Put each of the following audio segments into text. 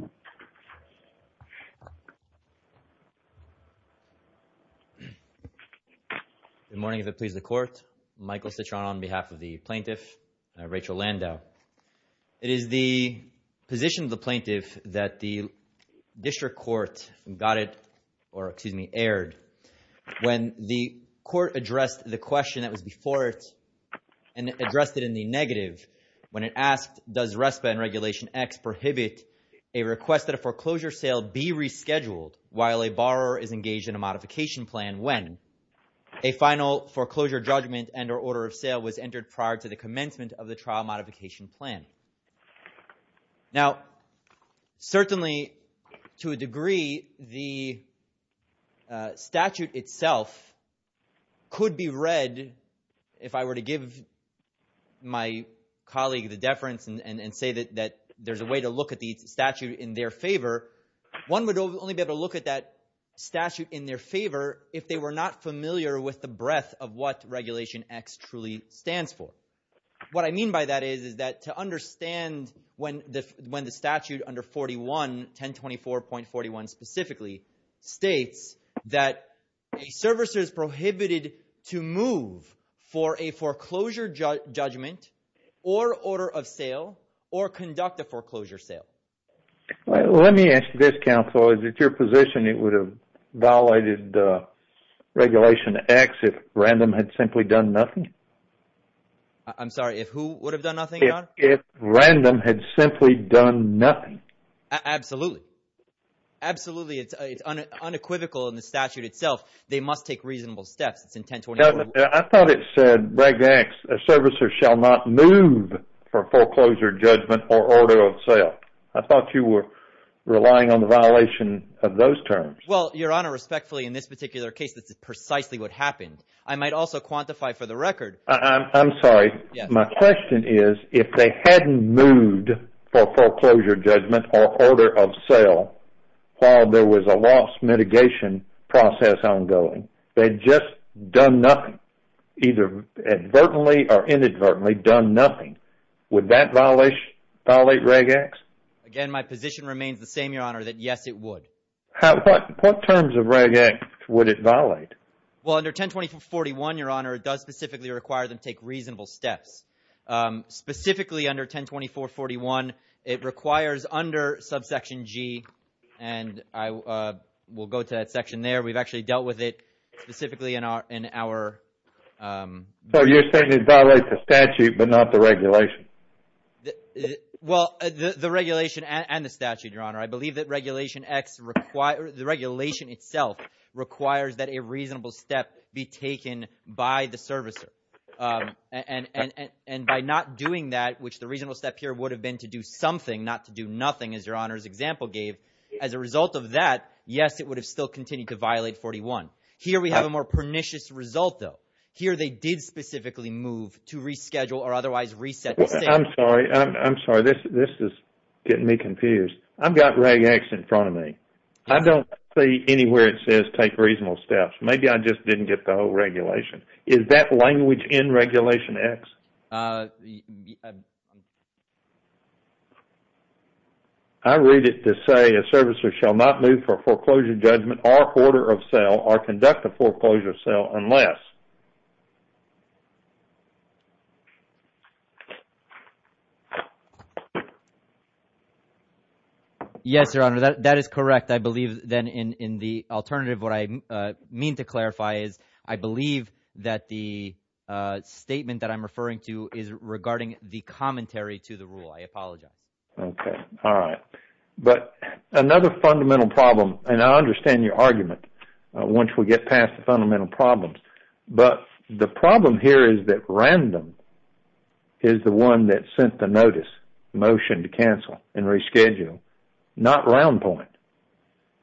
Good morning, if it pleases the Court. Michael Citron on behalf of the Plaintiff, Rachel Landau. It is the position of the Plaintiff that the District Court got it, or excuse me, aired when the Court addressed the question that was before it and addressed it in the request that a foreclosure sale be rescheduled while a borrower is engaged in a modification plan when a final foreclosure judgment and or order of sale was entered prior to the commencement of the trial modification plan. Now, certainly to a degree, the statute itself could be read, if I were to give my colleague the deference and say that there's a way to read the statute in their favor, one would only be able to look at that statute in their favor if they were not familiar with the breadth of what Regulation X truly stands for. What I mean by that is that to understand when the statute under 41, 1024.41 specifically, states that a servicer is prohibited to move for a foreclosure judgment or order of sale or conduct a foreclosure sale. Let me ask this, counsel. Is it your position it would have violated Regulation X if Randham had simply done nothing? I'm sorry, if who would have done nothing, Your Honor? If Randham had simply done nothing. Absolutely. Absolutely. It's unequivocal in the statute itself. They must take reasonable steps. It's in 1024. I thought it said, Reg X, a servicer shall not move for foreclosure judgment or order of sale. I thought you were relying on the violation of those terms. Well, Your Honor, respectfully, in this particular case, that's precisely what happened. I might also quantify for the record. I'm sorry. My question is, if they hadn't moved for foreclosure judgment or order of sale, done nothing, either advertently or inadvertently, done nothing, would that violate Reg X? Again, my position remains the same, Your Honor, that yes, it would. What terms of Reg X would it violate? Well, under 1024.41, Your Honor, it does specifically require them to take reasonable steps. Specifically under 1024.41, it requires under subsection G, and we'll go to that section there. We've actually dealt with it specifically in our... So you're saying it violates the statute, but not the regulation? Well, the regulation and the statute, Your Honor. I believe that Regulation X, the regulation itself, requires that a reasonable step be taken by the servicer. By not doing that, which the reasonable step here would have been to do something, not to do nothing, as we'll continue to violate 41. Here we have a more pernicious result, though. Here they did specifically move to reschedule or otherwise reset the sale. I'm sorry. I'm sorry. This is getting me confused. I've got Reg X in front of me. I don't see anywhere it says take reasonable steps. Maybe I just didn't get the whole regulation. Is that language in Regulation X? I read it to say a servicer shall not move for a foreclosure judgment or order of sale or conduct a foreclosure sale unless... Yes, Your Honor. That is correct. I believe then in the alternative, what I mean to clarify is I believe that the statement that I'm referring to is regarding the commentary to the rule. I apologize. Okay. All right. Another fundamental problem, and I understand your argument once we get past the fundamental problems, but the problem here is that Random is the one that sent the notice, motion to cancel and reschedule, not Round Point.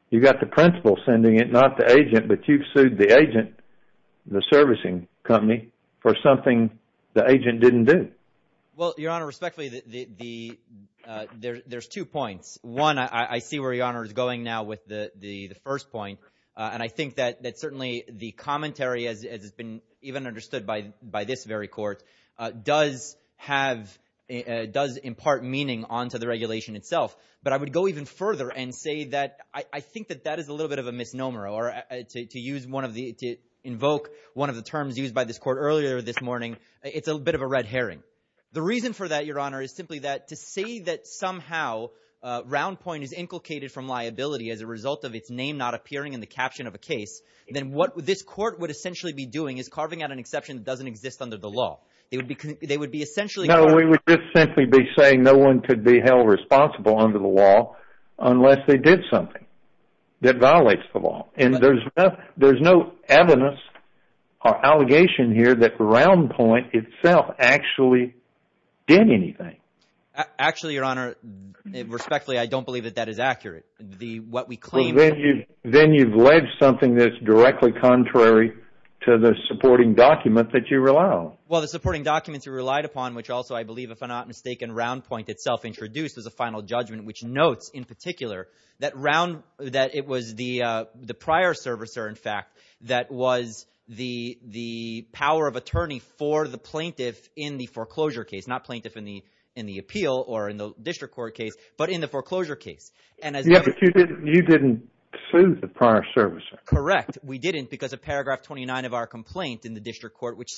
You've got the principal sending it, not the agent, but you've sued the agent, the servicing company, for something the agent didn't do. Well, Your Honor, respectfully, there's two points. One, I see where Your Honor is going now with the first point, and I think that certainly the commentary, as has been even understood by this very court, does impart meaning onto the regulation itself, but I think that that is a little bit of a misnomer to invoke one of the terms used by this court earlier this morning. It's a bit of a red herring. The reason for that, Your Honor, is simply that to say that somehow Round Point is inculcated from liability as a result of its name not appearing in the caption of a case, then what this court would essentially be doing is carving out an exception that doesn't exist under the law. They would be essentially... No, we would just simply be saying no one could be held responsible under the law unless they did something that violates the law, and there's no evidence or allegation here that Round Point itself actually did anything. Actually, Your Honor, respectfully, I don't believe that that is accurate. What we claim... Then you've led something that's directly contrary to the supporting document that you relied on. Well, the supporting documents we relied upon, which also, I believe, if I'm not mistaken, Round Point itself introduced as a final judgment, which notes, in particular, that it was the prior servicer, in fact, that was the power of attorney for the plaintiff in the foreclosure case, not plaintiff in the appeal or in the district court case, but in the foreclosure case. Yes, but you didn't sue the prior servicer. Correct. We didn't because of paragraph 29 of our complaint in the district court, which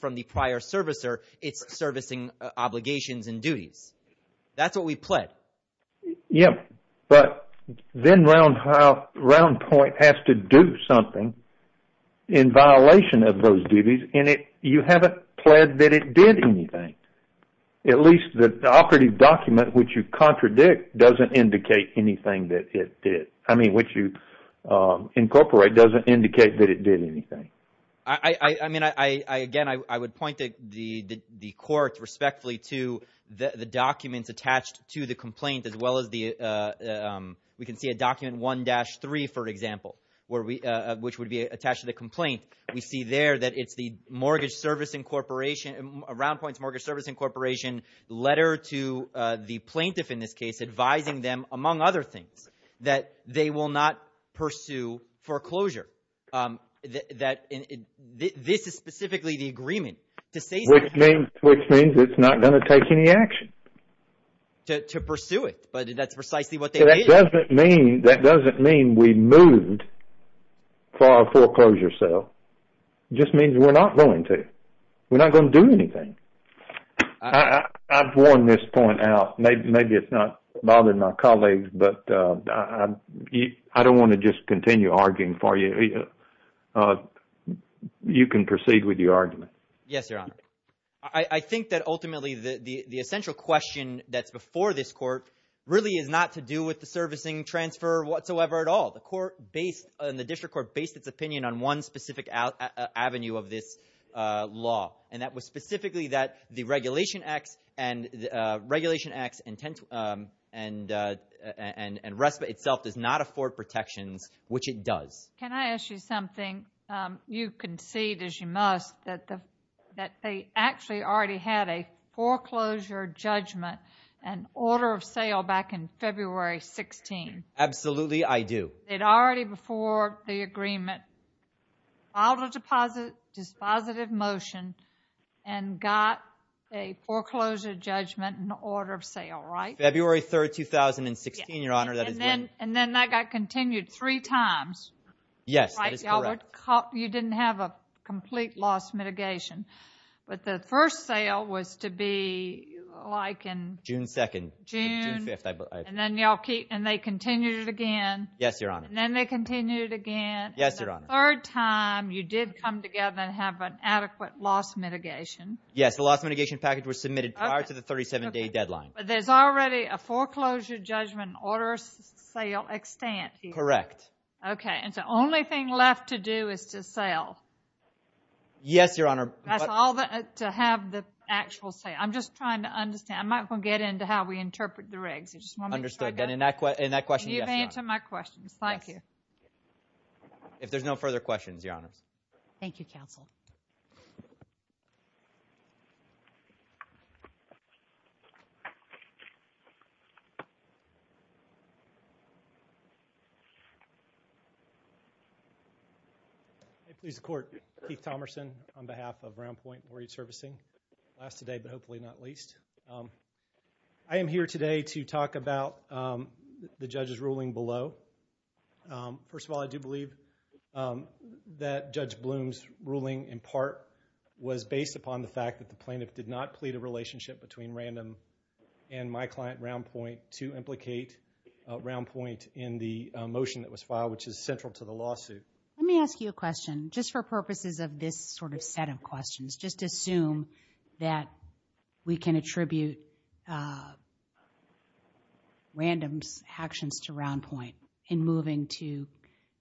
from the prior servicer, it's servicing obligations and duties. That's what we pled. Yes, but then Round Point has to do something in violation of those duties, and you haven't pled that it did anything. At least the operative document, which you contradict, doesn't indicate anything that it did. I mean, what you incorporate doesn't indicate that it did anything. I mean, again, I would point the court respectfully to the documents attached to the complaint, as well as we can see a document 1-3, for example, which would be attached to the complaint. We see there that it's the Round Point's Mortgage Servicing Corporation letter to the plaintiff, in this case, advising them, among other things, that they will not This is specifically the agreement. Which means it's not going to take any action. To pursue it, but that's precisely what they did. That doesn't mean we moved for our foreclosure sale. It just means we're not going to. We're not going to do anything. I've worn this point out. Maybe it's not bothering my colleagues, but I don't want to just continue arguing for you. You can proceed with your argument. Yes, Your Honor. I think that ultimately the essential question that's before this court really is not to do with the servicing transfer whatsoever at all. The court based, the district court based its opinion on one specific avenue of this law, and that was itself does not afford protections, which it does. Can I ask you something? You concede, as you must, that they actually already had a foreclosure judgment and order of sale back in February 2016. Absolutely, I do. They'd already before the agreement filed a dispositive motion and got a foreclosure judgment and order of sale, right? February 3rd, 2016, Your Honor. And then that got continued three times. Yes, that is correct. You didn't have a complete loss mitigation, but the first sale was to be like in... June 2nd. June 5th, and then they continued it again. Yes, Your Honor. Then they continued again. Yes, Your Honor. The third time you did come together and have an adequate loss mitigation. Yes, the loss mitigation package was submitted prior to the 37-day deadline. But there's already a foreclosure judgment and order of sale extent here. Correct. Okay, and the only thing left to do is to sell. Yes, Your Honor. That's all to have the actual sale. I'm just trying to understand. I'm not going to get into how we interpret the regs. You just want me to try to... Understood, and in that question, yes, Your Honor. You've answered my questions. Thank you. If there's no further questions, Your Honors. Thank you, counsel. I please the court. Keith Thomerson on behalf of Round Point Marine Servicing. Last today, but hopefully not least. I am here today to talk about the judge's ruling below. First of all, I do believe that Judge Bloom's ruling in part was based upon the fact that plaintiff did not plead a relationship between Random and my client, Round Point, to implicate Round Point in the motion that was filed, which is central to the lawsuit. Let me ask you a question just for purposes of this sort of set of questions. Just assume that we can attribute Random's actions to Round Point in moving to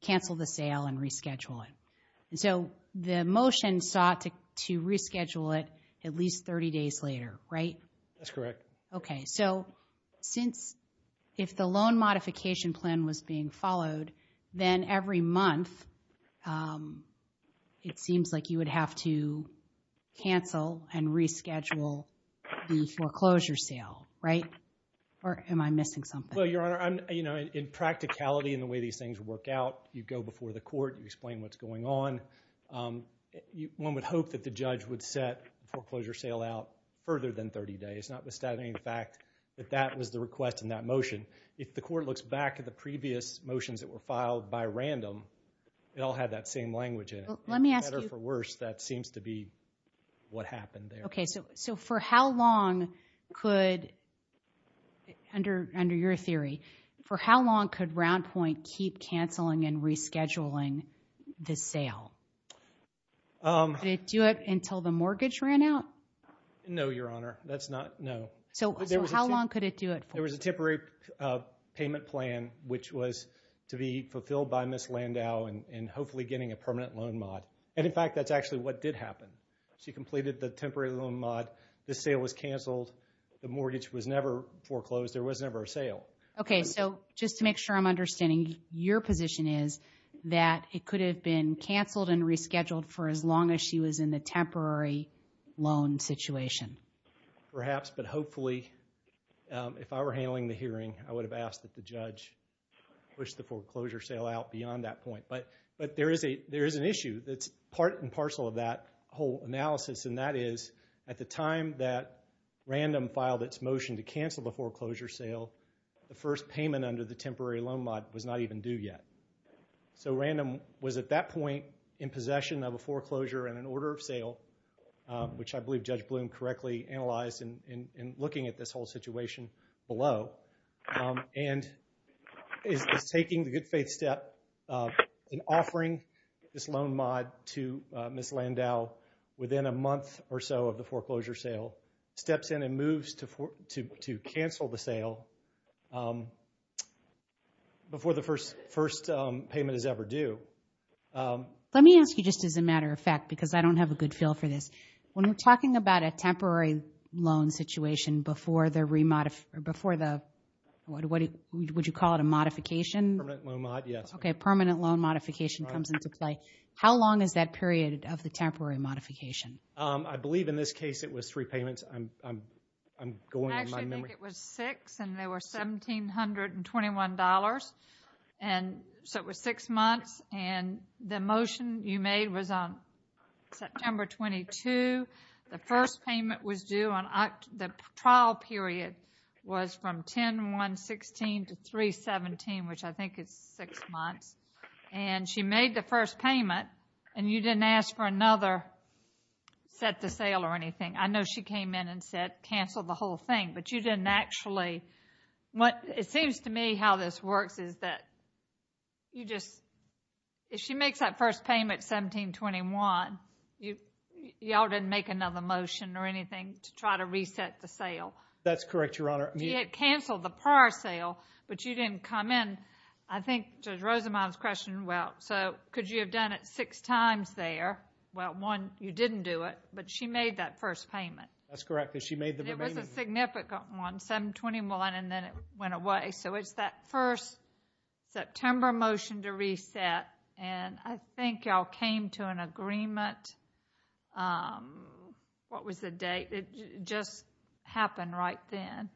cancel the sale and reschedule it. The motion sought to reschedule it at least 30 days later, right? That's correct. Okay, so if the loan modification plan was being followed, then every month it seems like you would have to cancel and reschedule the foreclosure sale, right? Or am I missing something? Well, Your Honor, in practicality and the way these things work out, you go before the court, you explain what's going on. One would hope that the judge would set the foreclosure sale out further than 30 days, notwithstanding the fact that that was the request in that motion. If the court looks back at the previous motions that were filed by Random, it all had that same language in it. Let me ask you— Better for worse, that seems to be what happened there. Okay, so for how long could, under your theory, for how long could Round Point keep canceling and rescheduling the sale? Could it do it until the mortgage ran out? No, Your Honor, that's not—no. So how long could it do it for? There was a temporary payment plan, which was to be fulfilled by Ms. Landau and hopefully getting a permanent loan mod. And in fact, that's actually what did happen. She completed the temporary loan mod, the sale was canceled, the mortgage was never foreclosed, there was never a sale. Okay, so just to make sure I'm understanding, your position is that it could have been canceled and rescheduled for as long as she was in the temporary loan situation. Perhaps, but hopefully, if I were handling the hearing, I would have asked that the judge push the foreclosure sale out beyond that point. But there is an issue that's part and parcel of that whole analysis, and that is, at the time that Random filed its motion to cancel the foreclosure sale, the first payment under the temporary loan mod was not even due yet. So Random was at that point in possession of a foreclosure and an order of sale, which I believe Judge Bloom correctly analyzed in looking at this whole situation below, and is taking the good faith step in offering this loan mod to Ms. Landau within a month or so of the foreclosure sale, steps in and moves to cancel the sale before the first payment is ever due. Let me ask you just as a matter of fact, because I don't have a good feel for this. When we're talking about a temporary loan situation before the remod, before the, what would you call it, a modification? Permanent loan mod, yes. Okay, permanent loan modification comes into play. How long is that period of the temporary modification? I believe in this case it was three payments. I'm going on my memory. I actually think it was six, and they were $1,721, and so it was six months, and the motion you made was on September 22. The first payment was due on, the trial period was from 10-1-16 to 3-17, which I think is six months, and she made the first payment, and you didn't ask for another set to sale or anything. I know she came in and said cancel the whole thing, but you didn't actually, what, it seems to me how this works is that you just, if she makes that first payment, $1,721, y'all didn't make another motion or anything to try to reset the sale. That's correct, Your Honor. You had canceled the prior sale, but you didn't come in. I think Judge Rosenbaum's question, well, so could you have done it six times there? Well, one, you didn't do it, but she made that first payment. That's correct, because she made the remaining. It was a significant one, $721, and then it went away. So it's that first September motion to reset, and I think y'all came to an agreement. What was the date? It just happened right then.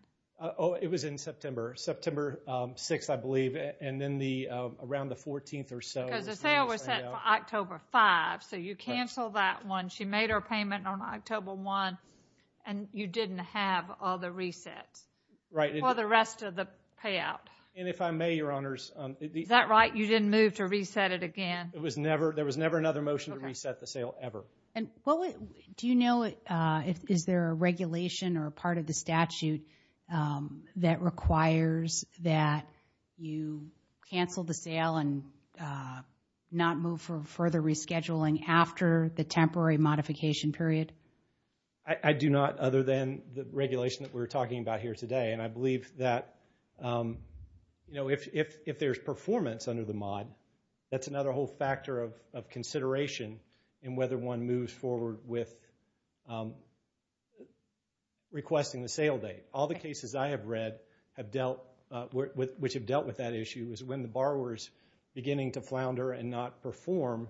Oh, it was in September. September 6th, I believe, and then the, around the 14th or so. Because the sale was set for October 5th, so you canceled that one. She made her payment on October 1st, and you didn't have all the resets. Right. For the rest of the payout. And if I may, Your Honors. Is that right? You didn't move to reset it again? It was never, there was never another motion to reset the sale, ever. And what, do you know, is there a regulation or a part of the statute that requires that you cancel the sale and not move for further rescheduling after the temporary modification period? I do not, other than the regulation that we're talking about here today. And I believe that, you know, if there's performance under the mod, that's another whole factor of consideration in whether one moves forward with requesting the sale date. All the cases I have read have dealt with, which have dealt with that issue, is when the borrower's beginning to flounder and not perform,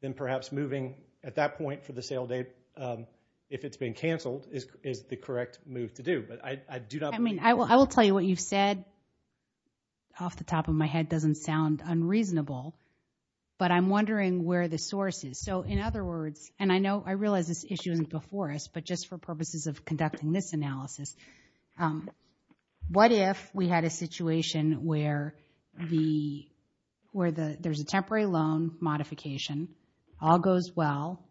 then perhaps moving at that point for the sale date, if it's been canceled, is the correct move to do. But I do not. I mean, I will tell you what you've said off the top of my head doesn't sound unreasonable, but I'm wondering where the source is. So, in other words, and I know, I realize this issue isn't before us, but just for purposes of conducting this analysis, what if we had a situation where the, where there's a temporary loan modification, all goes well,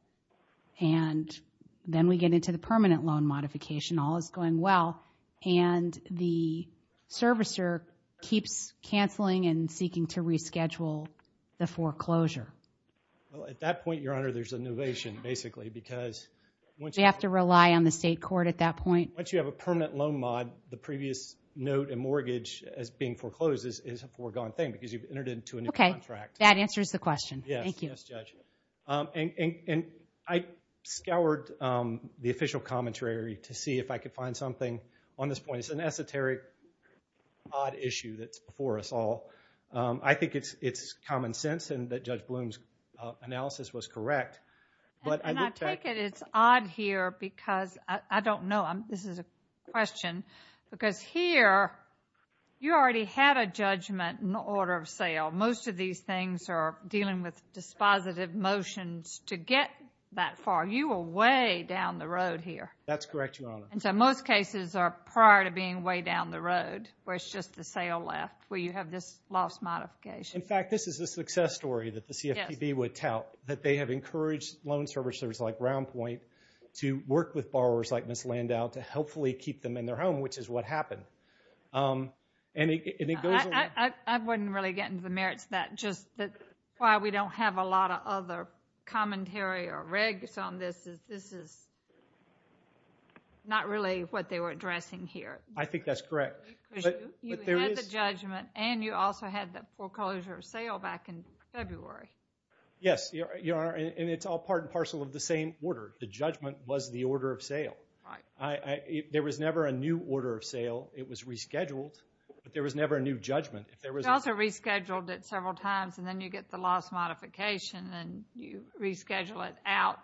and then we get into the permanent loan modification, all is going well, and the servicer keeps canceling and seeking to reschedule the foreclosure? Well, at that point, Your Honor, there's a novation, basically, because once you have to rely on the state court at that point, once you have a permanent loan mod, the previous note and mortgage as being foreclosed is a foregone thing, because you've entered into a new contract. That answers the question. Yes. Thank you. Yes, Judge. And I scoured the official commentary to see if I could find something on this point. It's an esoteric, odd issue that's before us all. I think it's common sense and that Judge Bloom's analysis was correct. And I take it it's odd here because, I don't know, this is a question, because here, you already had a judgment in the order of sale. Most of these things are dealing with dispositive motions to get that far. You were way down the road here. That's correct, Your Honor. So most cases are prior to being way down the road, where it's just the sale left, where you have this loss modification. In fact, this is a success story that the CFPB would tout, that they have encouraged loan servicers like Roundpoint to work with borrowers like Ms. Landau to helpfully keep them in their home, which is what happened. I wouldn't really get into the merits of that. Just why we don't have a lot of other commentary or regs on this is not really what they were addressing here. I think that's correct. You had the judgment and you also had the foreclosure of sale back in February. Yes, Your Honor, and it's all part and parcel of the same order. The judgment was the order of sale. There was never a new order of sale. It was rescheduled, but there was never a new judgment. You also rescheduled it several times and then you get the loss modification and you reschedule it out.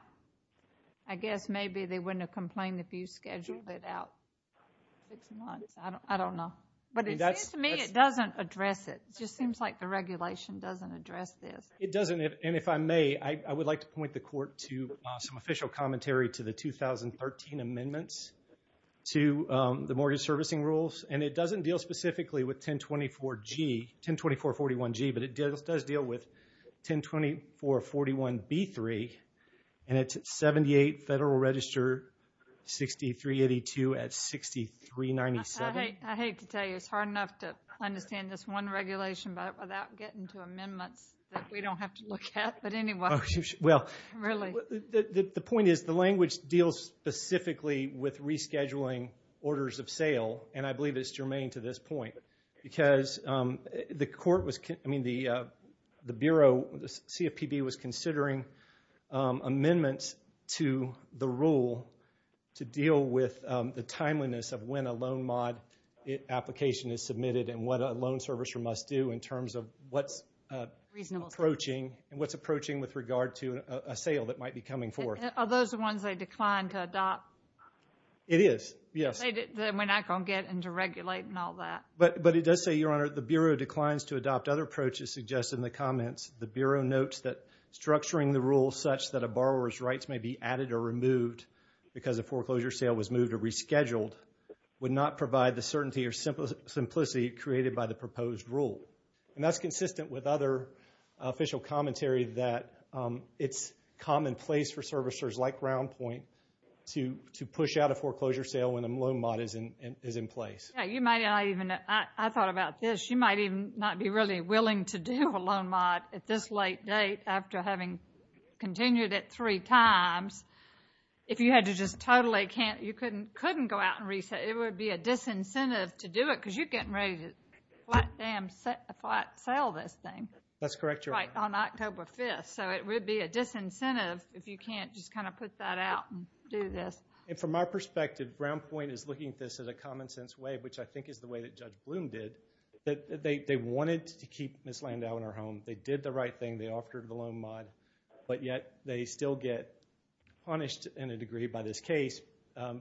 I guess maybe they wouldn't have complained if you scheduled it out six months. I don't know. But it seems to me it doesn't address it. It just seems like the regulation doesn't address this. It doesn't. And if I may, I would like to point the Court to some official commentary to the 2013 amendments to the mortgage servicing rules. And it doesn't deal specifically with 1024G, 1024.41G, but it does deal with 1024.41B3 and it's 78 Federal Register 6382 at 6397. I hate to tell you. It's hard enough to understand this one regulation without getting to amendments that we don't have to look at. But anyway, really. The point is the language deals specifically with rescheduling orders of sale. And I believe it's germane to this point. Because the Bureau, the CFPB, was considering amendments to the rule to deal with the timeliness of when a loan mod application is submitted and what a loan servicer must do in terms of what's approaching with regard to a sale that might be coming forth. Are those the ones they declined to adopt? It is, yes. We're not going to get into regulating all that. But it does say, Your Honor, the Bureau declines to adopt other approaches suggested in the comments. The Bureau notes that structuring the rule such that a borrower's rights may be added or removed because a foreclosure sale was moved or rescheduled would not provide the certainty or simplicity created by the proposed rule. And that's consistent with other official commentary that it's commonplace for servicers like Groundpoint to push out a foreclosure sale when a loan mod is in place. You might not even, I thought about this, you might even not be really willing to do a loan mod at this late date after having continued it three times. If you had to just totally can't, you couldn't go out and reset, it would be a disincentive to do it because you're getting ready to flat sale this thing. That's correct, Your Honor. On October 5th. So it would be a disincentive if you can't just kind of put that out and do this. And from our perspective, Groundpoint is looking at this as a common sense way, which I think is the way that Judge Bloom did, that they wanted to keep Ms. Landau in her home, they did the right thing, they offered the loan mod, but yet they still get punished in a degree by this case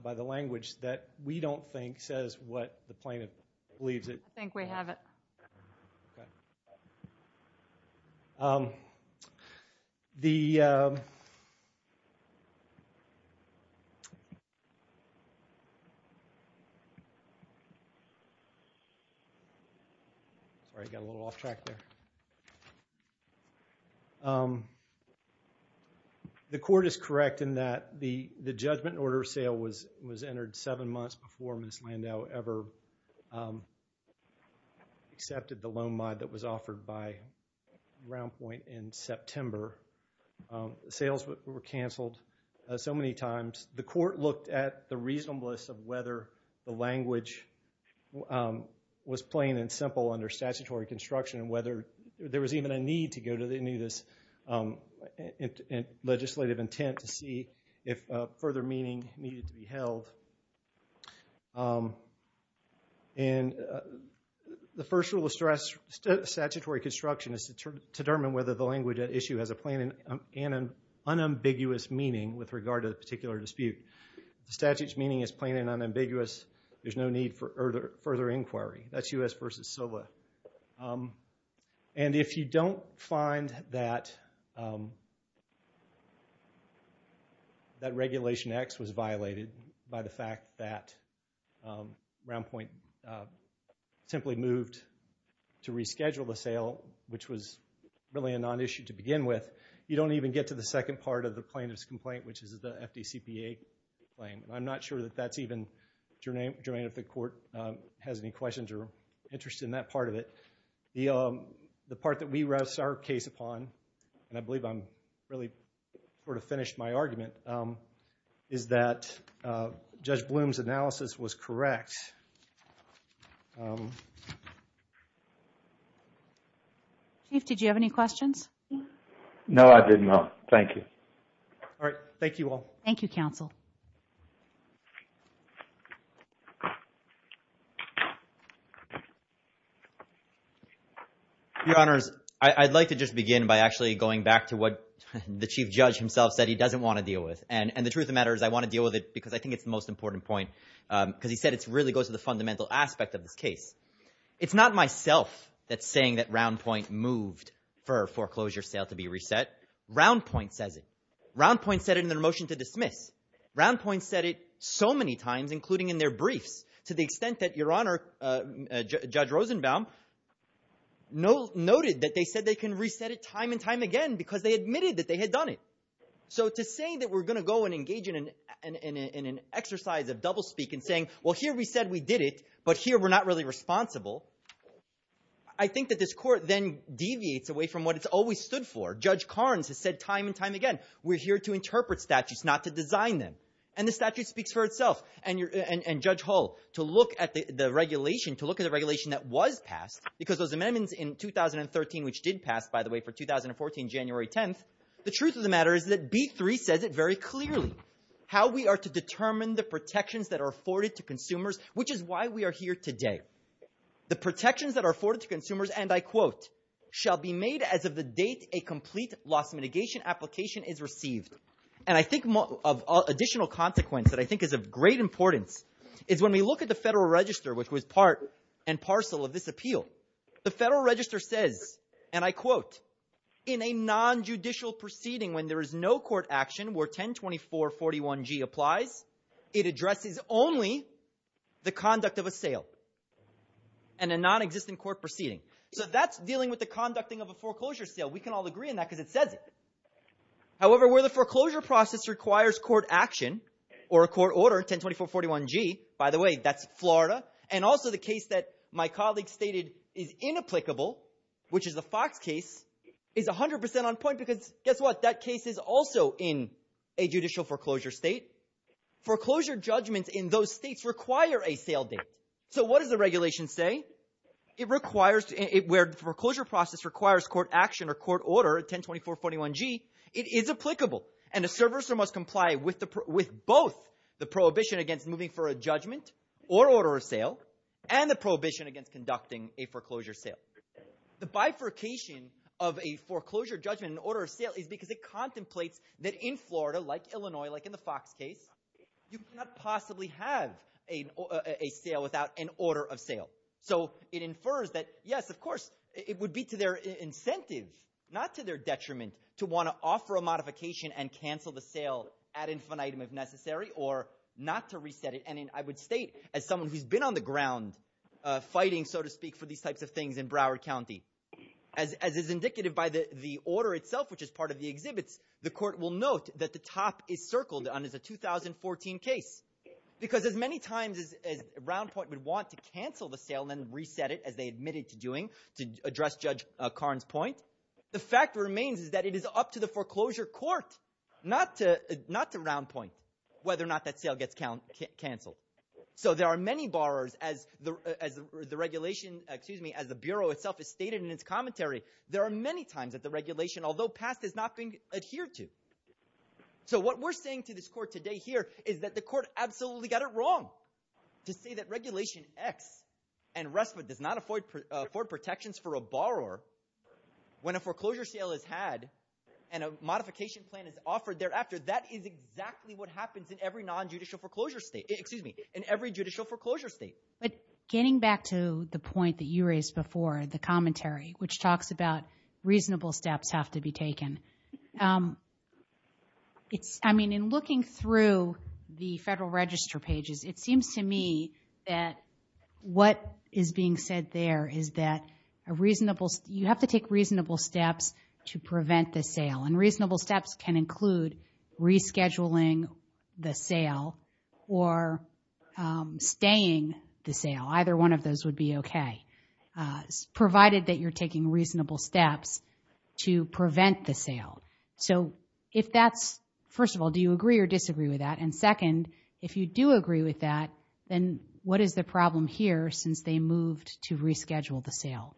by the language that we don't think says what the plaintiff believes it. I think we have it. Sorry, I got a little off track there. The court is correct in that the judgment order sale was entered seven months before Ms. Landau ever accepted the loan mod that was offered by Groundpoint in September. Sales were canceled so many times. The court looked at the reasonableness of whether the language was plain and simple under statutory construction and whether there was even a need to go to any of this legislative intent to see if further meaning needed to be held. And the first rule of statutory construction is to determine whether the language at issue has a plain and unambiguous meaning with regard to the particular dispute. The statute's meaning is plain and unambiguous. There's no need for further inquiry. That's U.S. v. SILVA. And if you don't find that Regulation X was violated by the fact that Groundpoint simply moved to reschedule the sale, which was really a non-issue to begin with, you don't even get to the second part of the plaintiff's complaint, which is the FDCPA claim. I'm not sure that that's even germane if the court has any questions or interest in that part of it. The part that we rest our case upon, and I believe I'm really sort of finished my argument, is that Judge Bloom's analysis was correct. Chief, did you have any questions? No, I did not. Thank you. All right, thank you all. Thank you, Counsel. Your Honors, I'd like to just begin by actually going back to what the Chief Judge himself said he doesn't want to deal with. And the truth of the matter is I want to deal with it because I think it's the most important point, because he said it really goes to the fundamental aspect of this case. It's not myself that's saying that Roundpoint moved for a foreclosure sale to be reset. Roundpoint says it. Roundpoint said it in their motion to dismiss. Roundpoint said it so many times, including in their briefs, to the extent that Your Honor, Judge Rosenbaum, noted that they said they can reset it time and time again because they admitted that they had done it. So to say that we're going to go and engage in an exercise of double speak and saying, well, here we said we did it, but here we're not really responsible, I think that this court then deviates away from what it's always stood for. Judge Carnes has said time and time again, we're here to interpret statutes, not to design them. And the statute speaks for itself. And Judge Hull, to look at the regulation, to look at the regulation that was passed, because those amendments in 2013, which did pass, by the way, for 2014, January 10th, the truth of the matter is that B3 says it very clearly, how we are to determine the protections that are afforded to consumers, which is why we are here today. The protections that are afforded to consumers, and I quote, shall be made as of the date a complete loss mitigation application is received. And I think of additional consequence that I think is of great importance is when we look at the Federal Register, which was part and parcel of this appeal, the Federal Register says, and I quote, in a non-judicial proceeding when there is no court action, where 102441G applies, it addresses only the conduct of a sale and a non-existent court proceeding. So that's dealing with the conducting of a foreclosure sale. We can all agree on that because it says it. However, where the foreclosure process requires court action or a court order, 102441G, by the way, that's Florida, and also the case that my colleague stated is inapplicable, which is the Fox case, is 100% on point because guess what? That case is also in a judicial foreclosure state. Foreclosure judgments in those states require a sale date. So what does the regulation say? It requires, where the foreclosure process requires court action or court order, 102441G, it is applicable. And a servicer must comply with both the prohibition against moving for a judgment or order of sale and the prohibition against conducting a foreclosure sale. The bifurcation of a foreclosure judgment and order of sale is because it contemplates that in Florida, like Illinois, like in the Fox case, you cannot possibly have a sale without an order of sale. So it infers that, yes, of course, it would be to their incentive, not to their detriment, to want to offer a modification and cancel the sale ad infinitum if necessary, or not to reset it. And I would state, as someone who's been on the ground, fighting, so to speak, for these types of things in Broward County, as is indicative by the order itself, which is part of the exhibits, the court will note that the top is circled as a 2014 case. Because as many times as Round Point would want to cancel the sale and then reset it, as they admitted to doing, to address Judge Karn's point, the fact remains is that it is up to the foreclosure court not to Round Point whether or not that sale gets canceled. So there are many borrowers, as the regulation, excuse me, as the Bureau itself has stated in its commentary, there are many times that the regulation, although passed, has not been adhered to. So what we're saying to this court today here is that the court absolutely got it wrong to say that Regulation X and RESPA does not afford protections for a borrower when a foreclosure sale is had and a modification plan is offered thereafter. That is exactly what happens in every non-judicial foreclosure state, excuse me, in every judicial foreclosure state. But getting back to the point that you raised before, the commentary, which talks about reasonable steps have to be taken, it's, I mean, in looking through the Federal Register pages, it seems to me that what is being said there is that a reasonable, you have to take reasonable steps to prevent the sale. And reasonable steps can include rescheduling the sale or staying the sale. Either one of those would be okay, provided that you're taking reasonable steps to prevent the sale. So if that's, first of all, do you agree or disagree with that? And second, if you do agree with that, then what is the problem here since they moved to reschedule the sale?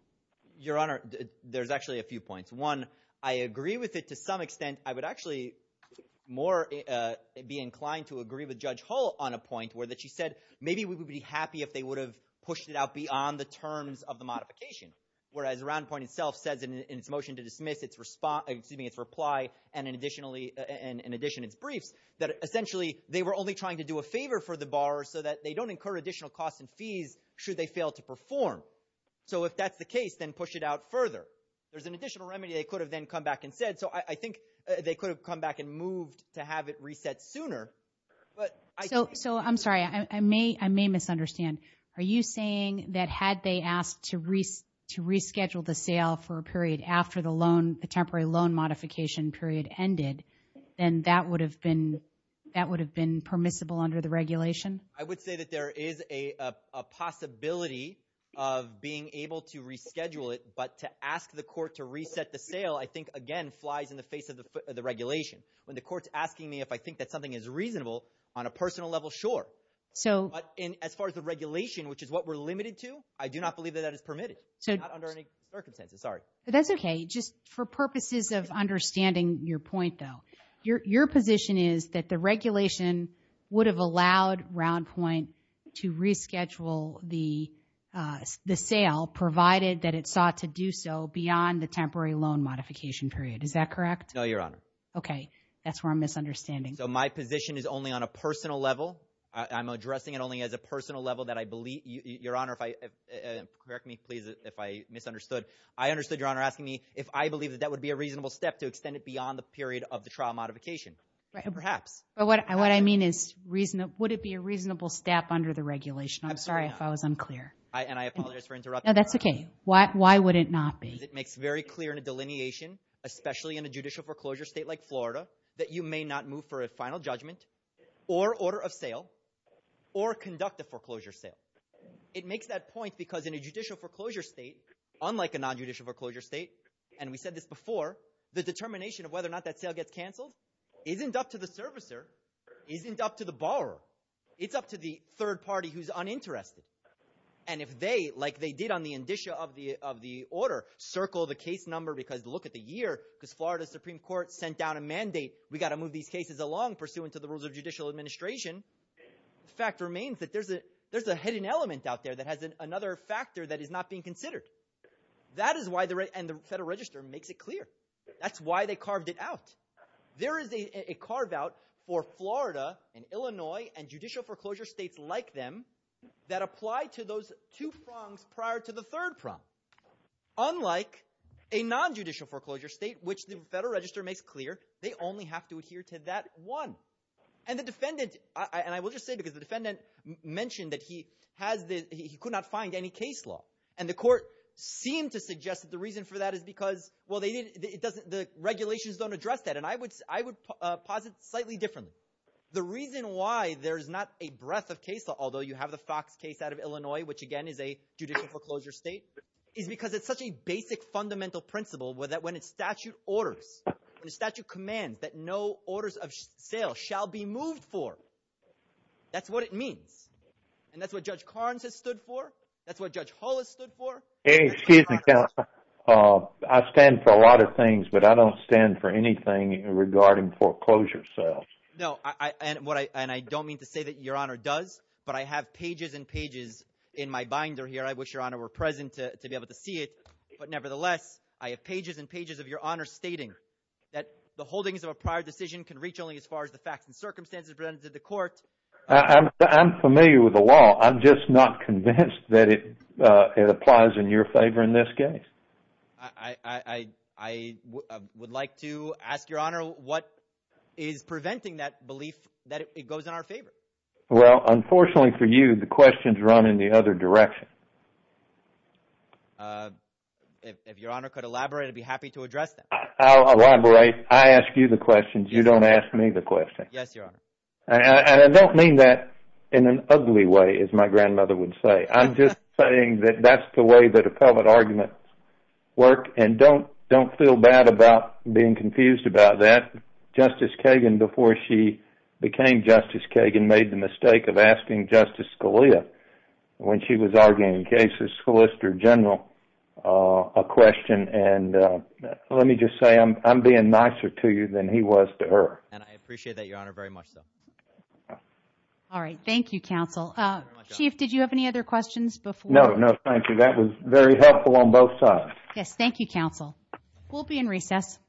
Your Honor, there's actually a few points. One, I agree with it to some extent. I would actually more be inclined to agree with Judge Hull on a point where that she said maybe we would be happy if they would have pushed it out beyond the terms of the modification. Whereas Round Point itself says in its motion to dismiss its response, excuse me, its reply, and in addition, its briefs, that essentially they were only trying to do a favor for the borrower so that they don't incur additional costs and fees should they fail to perform. So if that's the case, then push it out further. There's an additional remedy they could have then come back and said. So I think they could have come back and moved to have it reset sooner. But so I'm sorry, I may misunderstand. Are you saying that had they asked to reschedule the sale for a period after the loan, the temporary loan modification period ended, then that would have been permissible under the regulation? I would say that there is a possibility of being able to reschedule it. But to ask the court to reset the sale, I think, again, flies in the face of the regulation. When the court's asking me if I think that something is reasonable, on a personal level, sure. But as far as the regulation, which is what we're limited to, I do not believe that that is permitted under any circumstances. Sorry. But that's OK. Just for purposes of understanding your point, though, your position is that the regulation would have allowed Round Point to reschedule the sale provided that it sought to do so beyond the temporary loan modification period. Is that correct? No, Your Honor. OK, that's where I'm misunderstanding. So my position is only on a personal level. I'm addressing it only as a personal level that I believe, Your Honor, correct me, please, if I misunderstood. I understood, Your Honor, asking me if I believe that that would be a reasonable step to extend it beyond the period of the trial modification. Perhaps. But what I mean is, would it be a reasonable step under the regulation? I'm sorry if I was unclear. And I apologize for interrupting. That's OK. Why would it not be? Because it makes very clear in a delineation, especially in a judicial foreclosure state like Florida, that you may not move for a final judgment or order of sale or conduct a foreclosure sale. It makes that point because in a judicial foreclosure state, unlike a nonjudicial foreclosure state, and we said this before, the determination of whether or not that sale gets canceled isn't up to the servicer, isn't up to the borrower. It's up to the third party who's uninterested. And if they, like they did on the indicia of the order, circle the case number because look at the year, because Florida Supreme Court sent down a mandate, we got to move these cases along pursuant to the rules of judicial administration. The fact remains that there's a hidden element out there that has another factor that is not being considered. That is why the Federal Register makes it clear. That's why they carved it out. There is a carve out for Florida and Illinois and judicial foreclosure states like them that apply to those two prongs prior to the third prong. Unlike a nonjudicial foreclosure state, which the Federal Register makes clear, they only have to adhere to that one. And the defendant, and I will just say because the defendant mentioned that he could not find any case law. And the court seemed to suggest that the reason for that is because, well, the regulations don't address that. And I would posit slightly differently. The reason why there's not a breadth of case law, although you have the Fox case out of Illinois, which again is a judicial foreclosure state, is because it's such a basic fundamental principle where that when a statute orders, when a statute commands that no orders of sale shall be moved for, that's what it means. And that's what Judge Carnes has stood for. That's what Judge Hull has stood for. Excuse me, counsel. I stand for a lot of things, but I don't stand for anything regarding foreclosure sales. No, and I don't mean to say that your honor does, but I have pages and pages in my binder here. I wish your honor were present to be able to see it. But nevertheless, I have pages and pages of your honor stating that the holdings of a prior decision can reach only as far as the facts and circumstances presented to the court. I'm familiar with the law. I'm just not convinced that it applies in your favor in this case. I would like to ask your honor what is preventing that belief that it goes in our favor? Well, unfortunately for you, the questions run in the other direction. Uh, if your honor could elaborate, I'd be happy to address that. I'll elaborate. I ask you the questions. You don't ask me the questions. Yes, your honor. And I don't mean that in an ugly way, as my grandmother would say. I'm just saying that that's the way that appellate arguments work. And don't feel bad about being confused about that. Justice Kagan, before she became Justice Kagan, made the mistake of asking Justice Scalia when she was arguing cases, Solicitor General, a question. And let me just say, I'm being nicer to you than he was to her. And I appreciate that, your honor, very much so. All right. Thank you, counsel. Chief, did you have any other questions before? No, no, thank you. That was very helpful on both sides. Yes, thank you, counsel. We'll be in recess.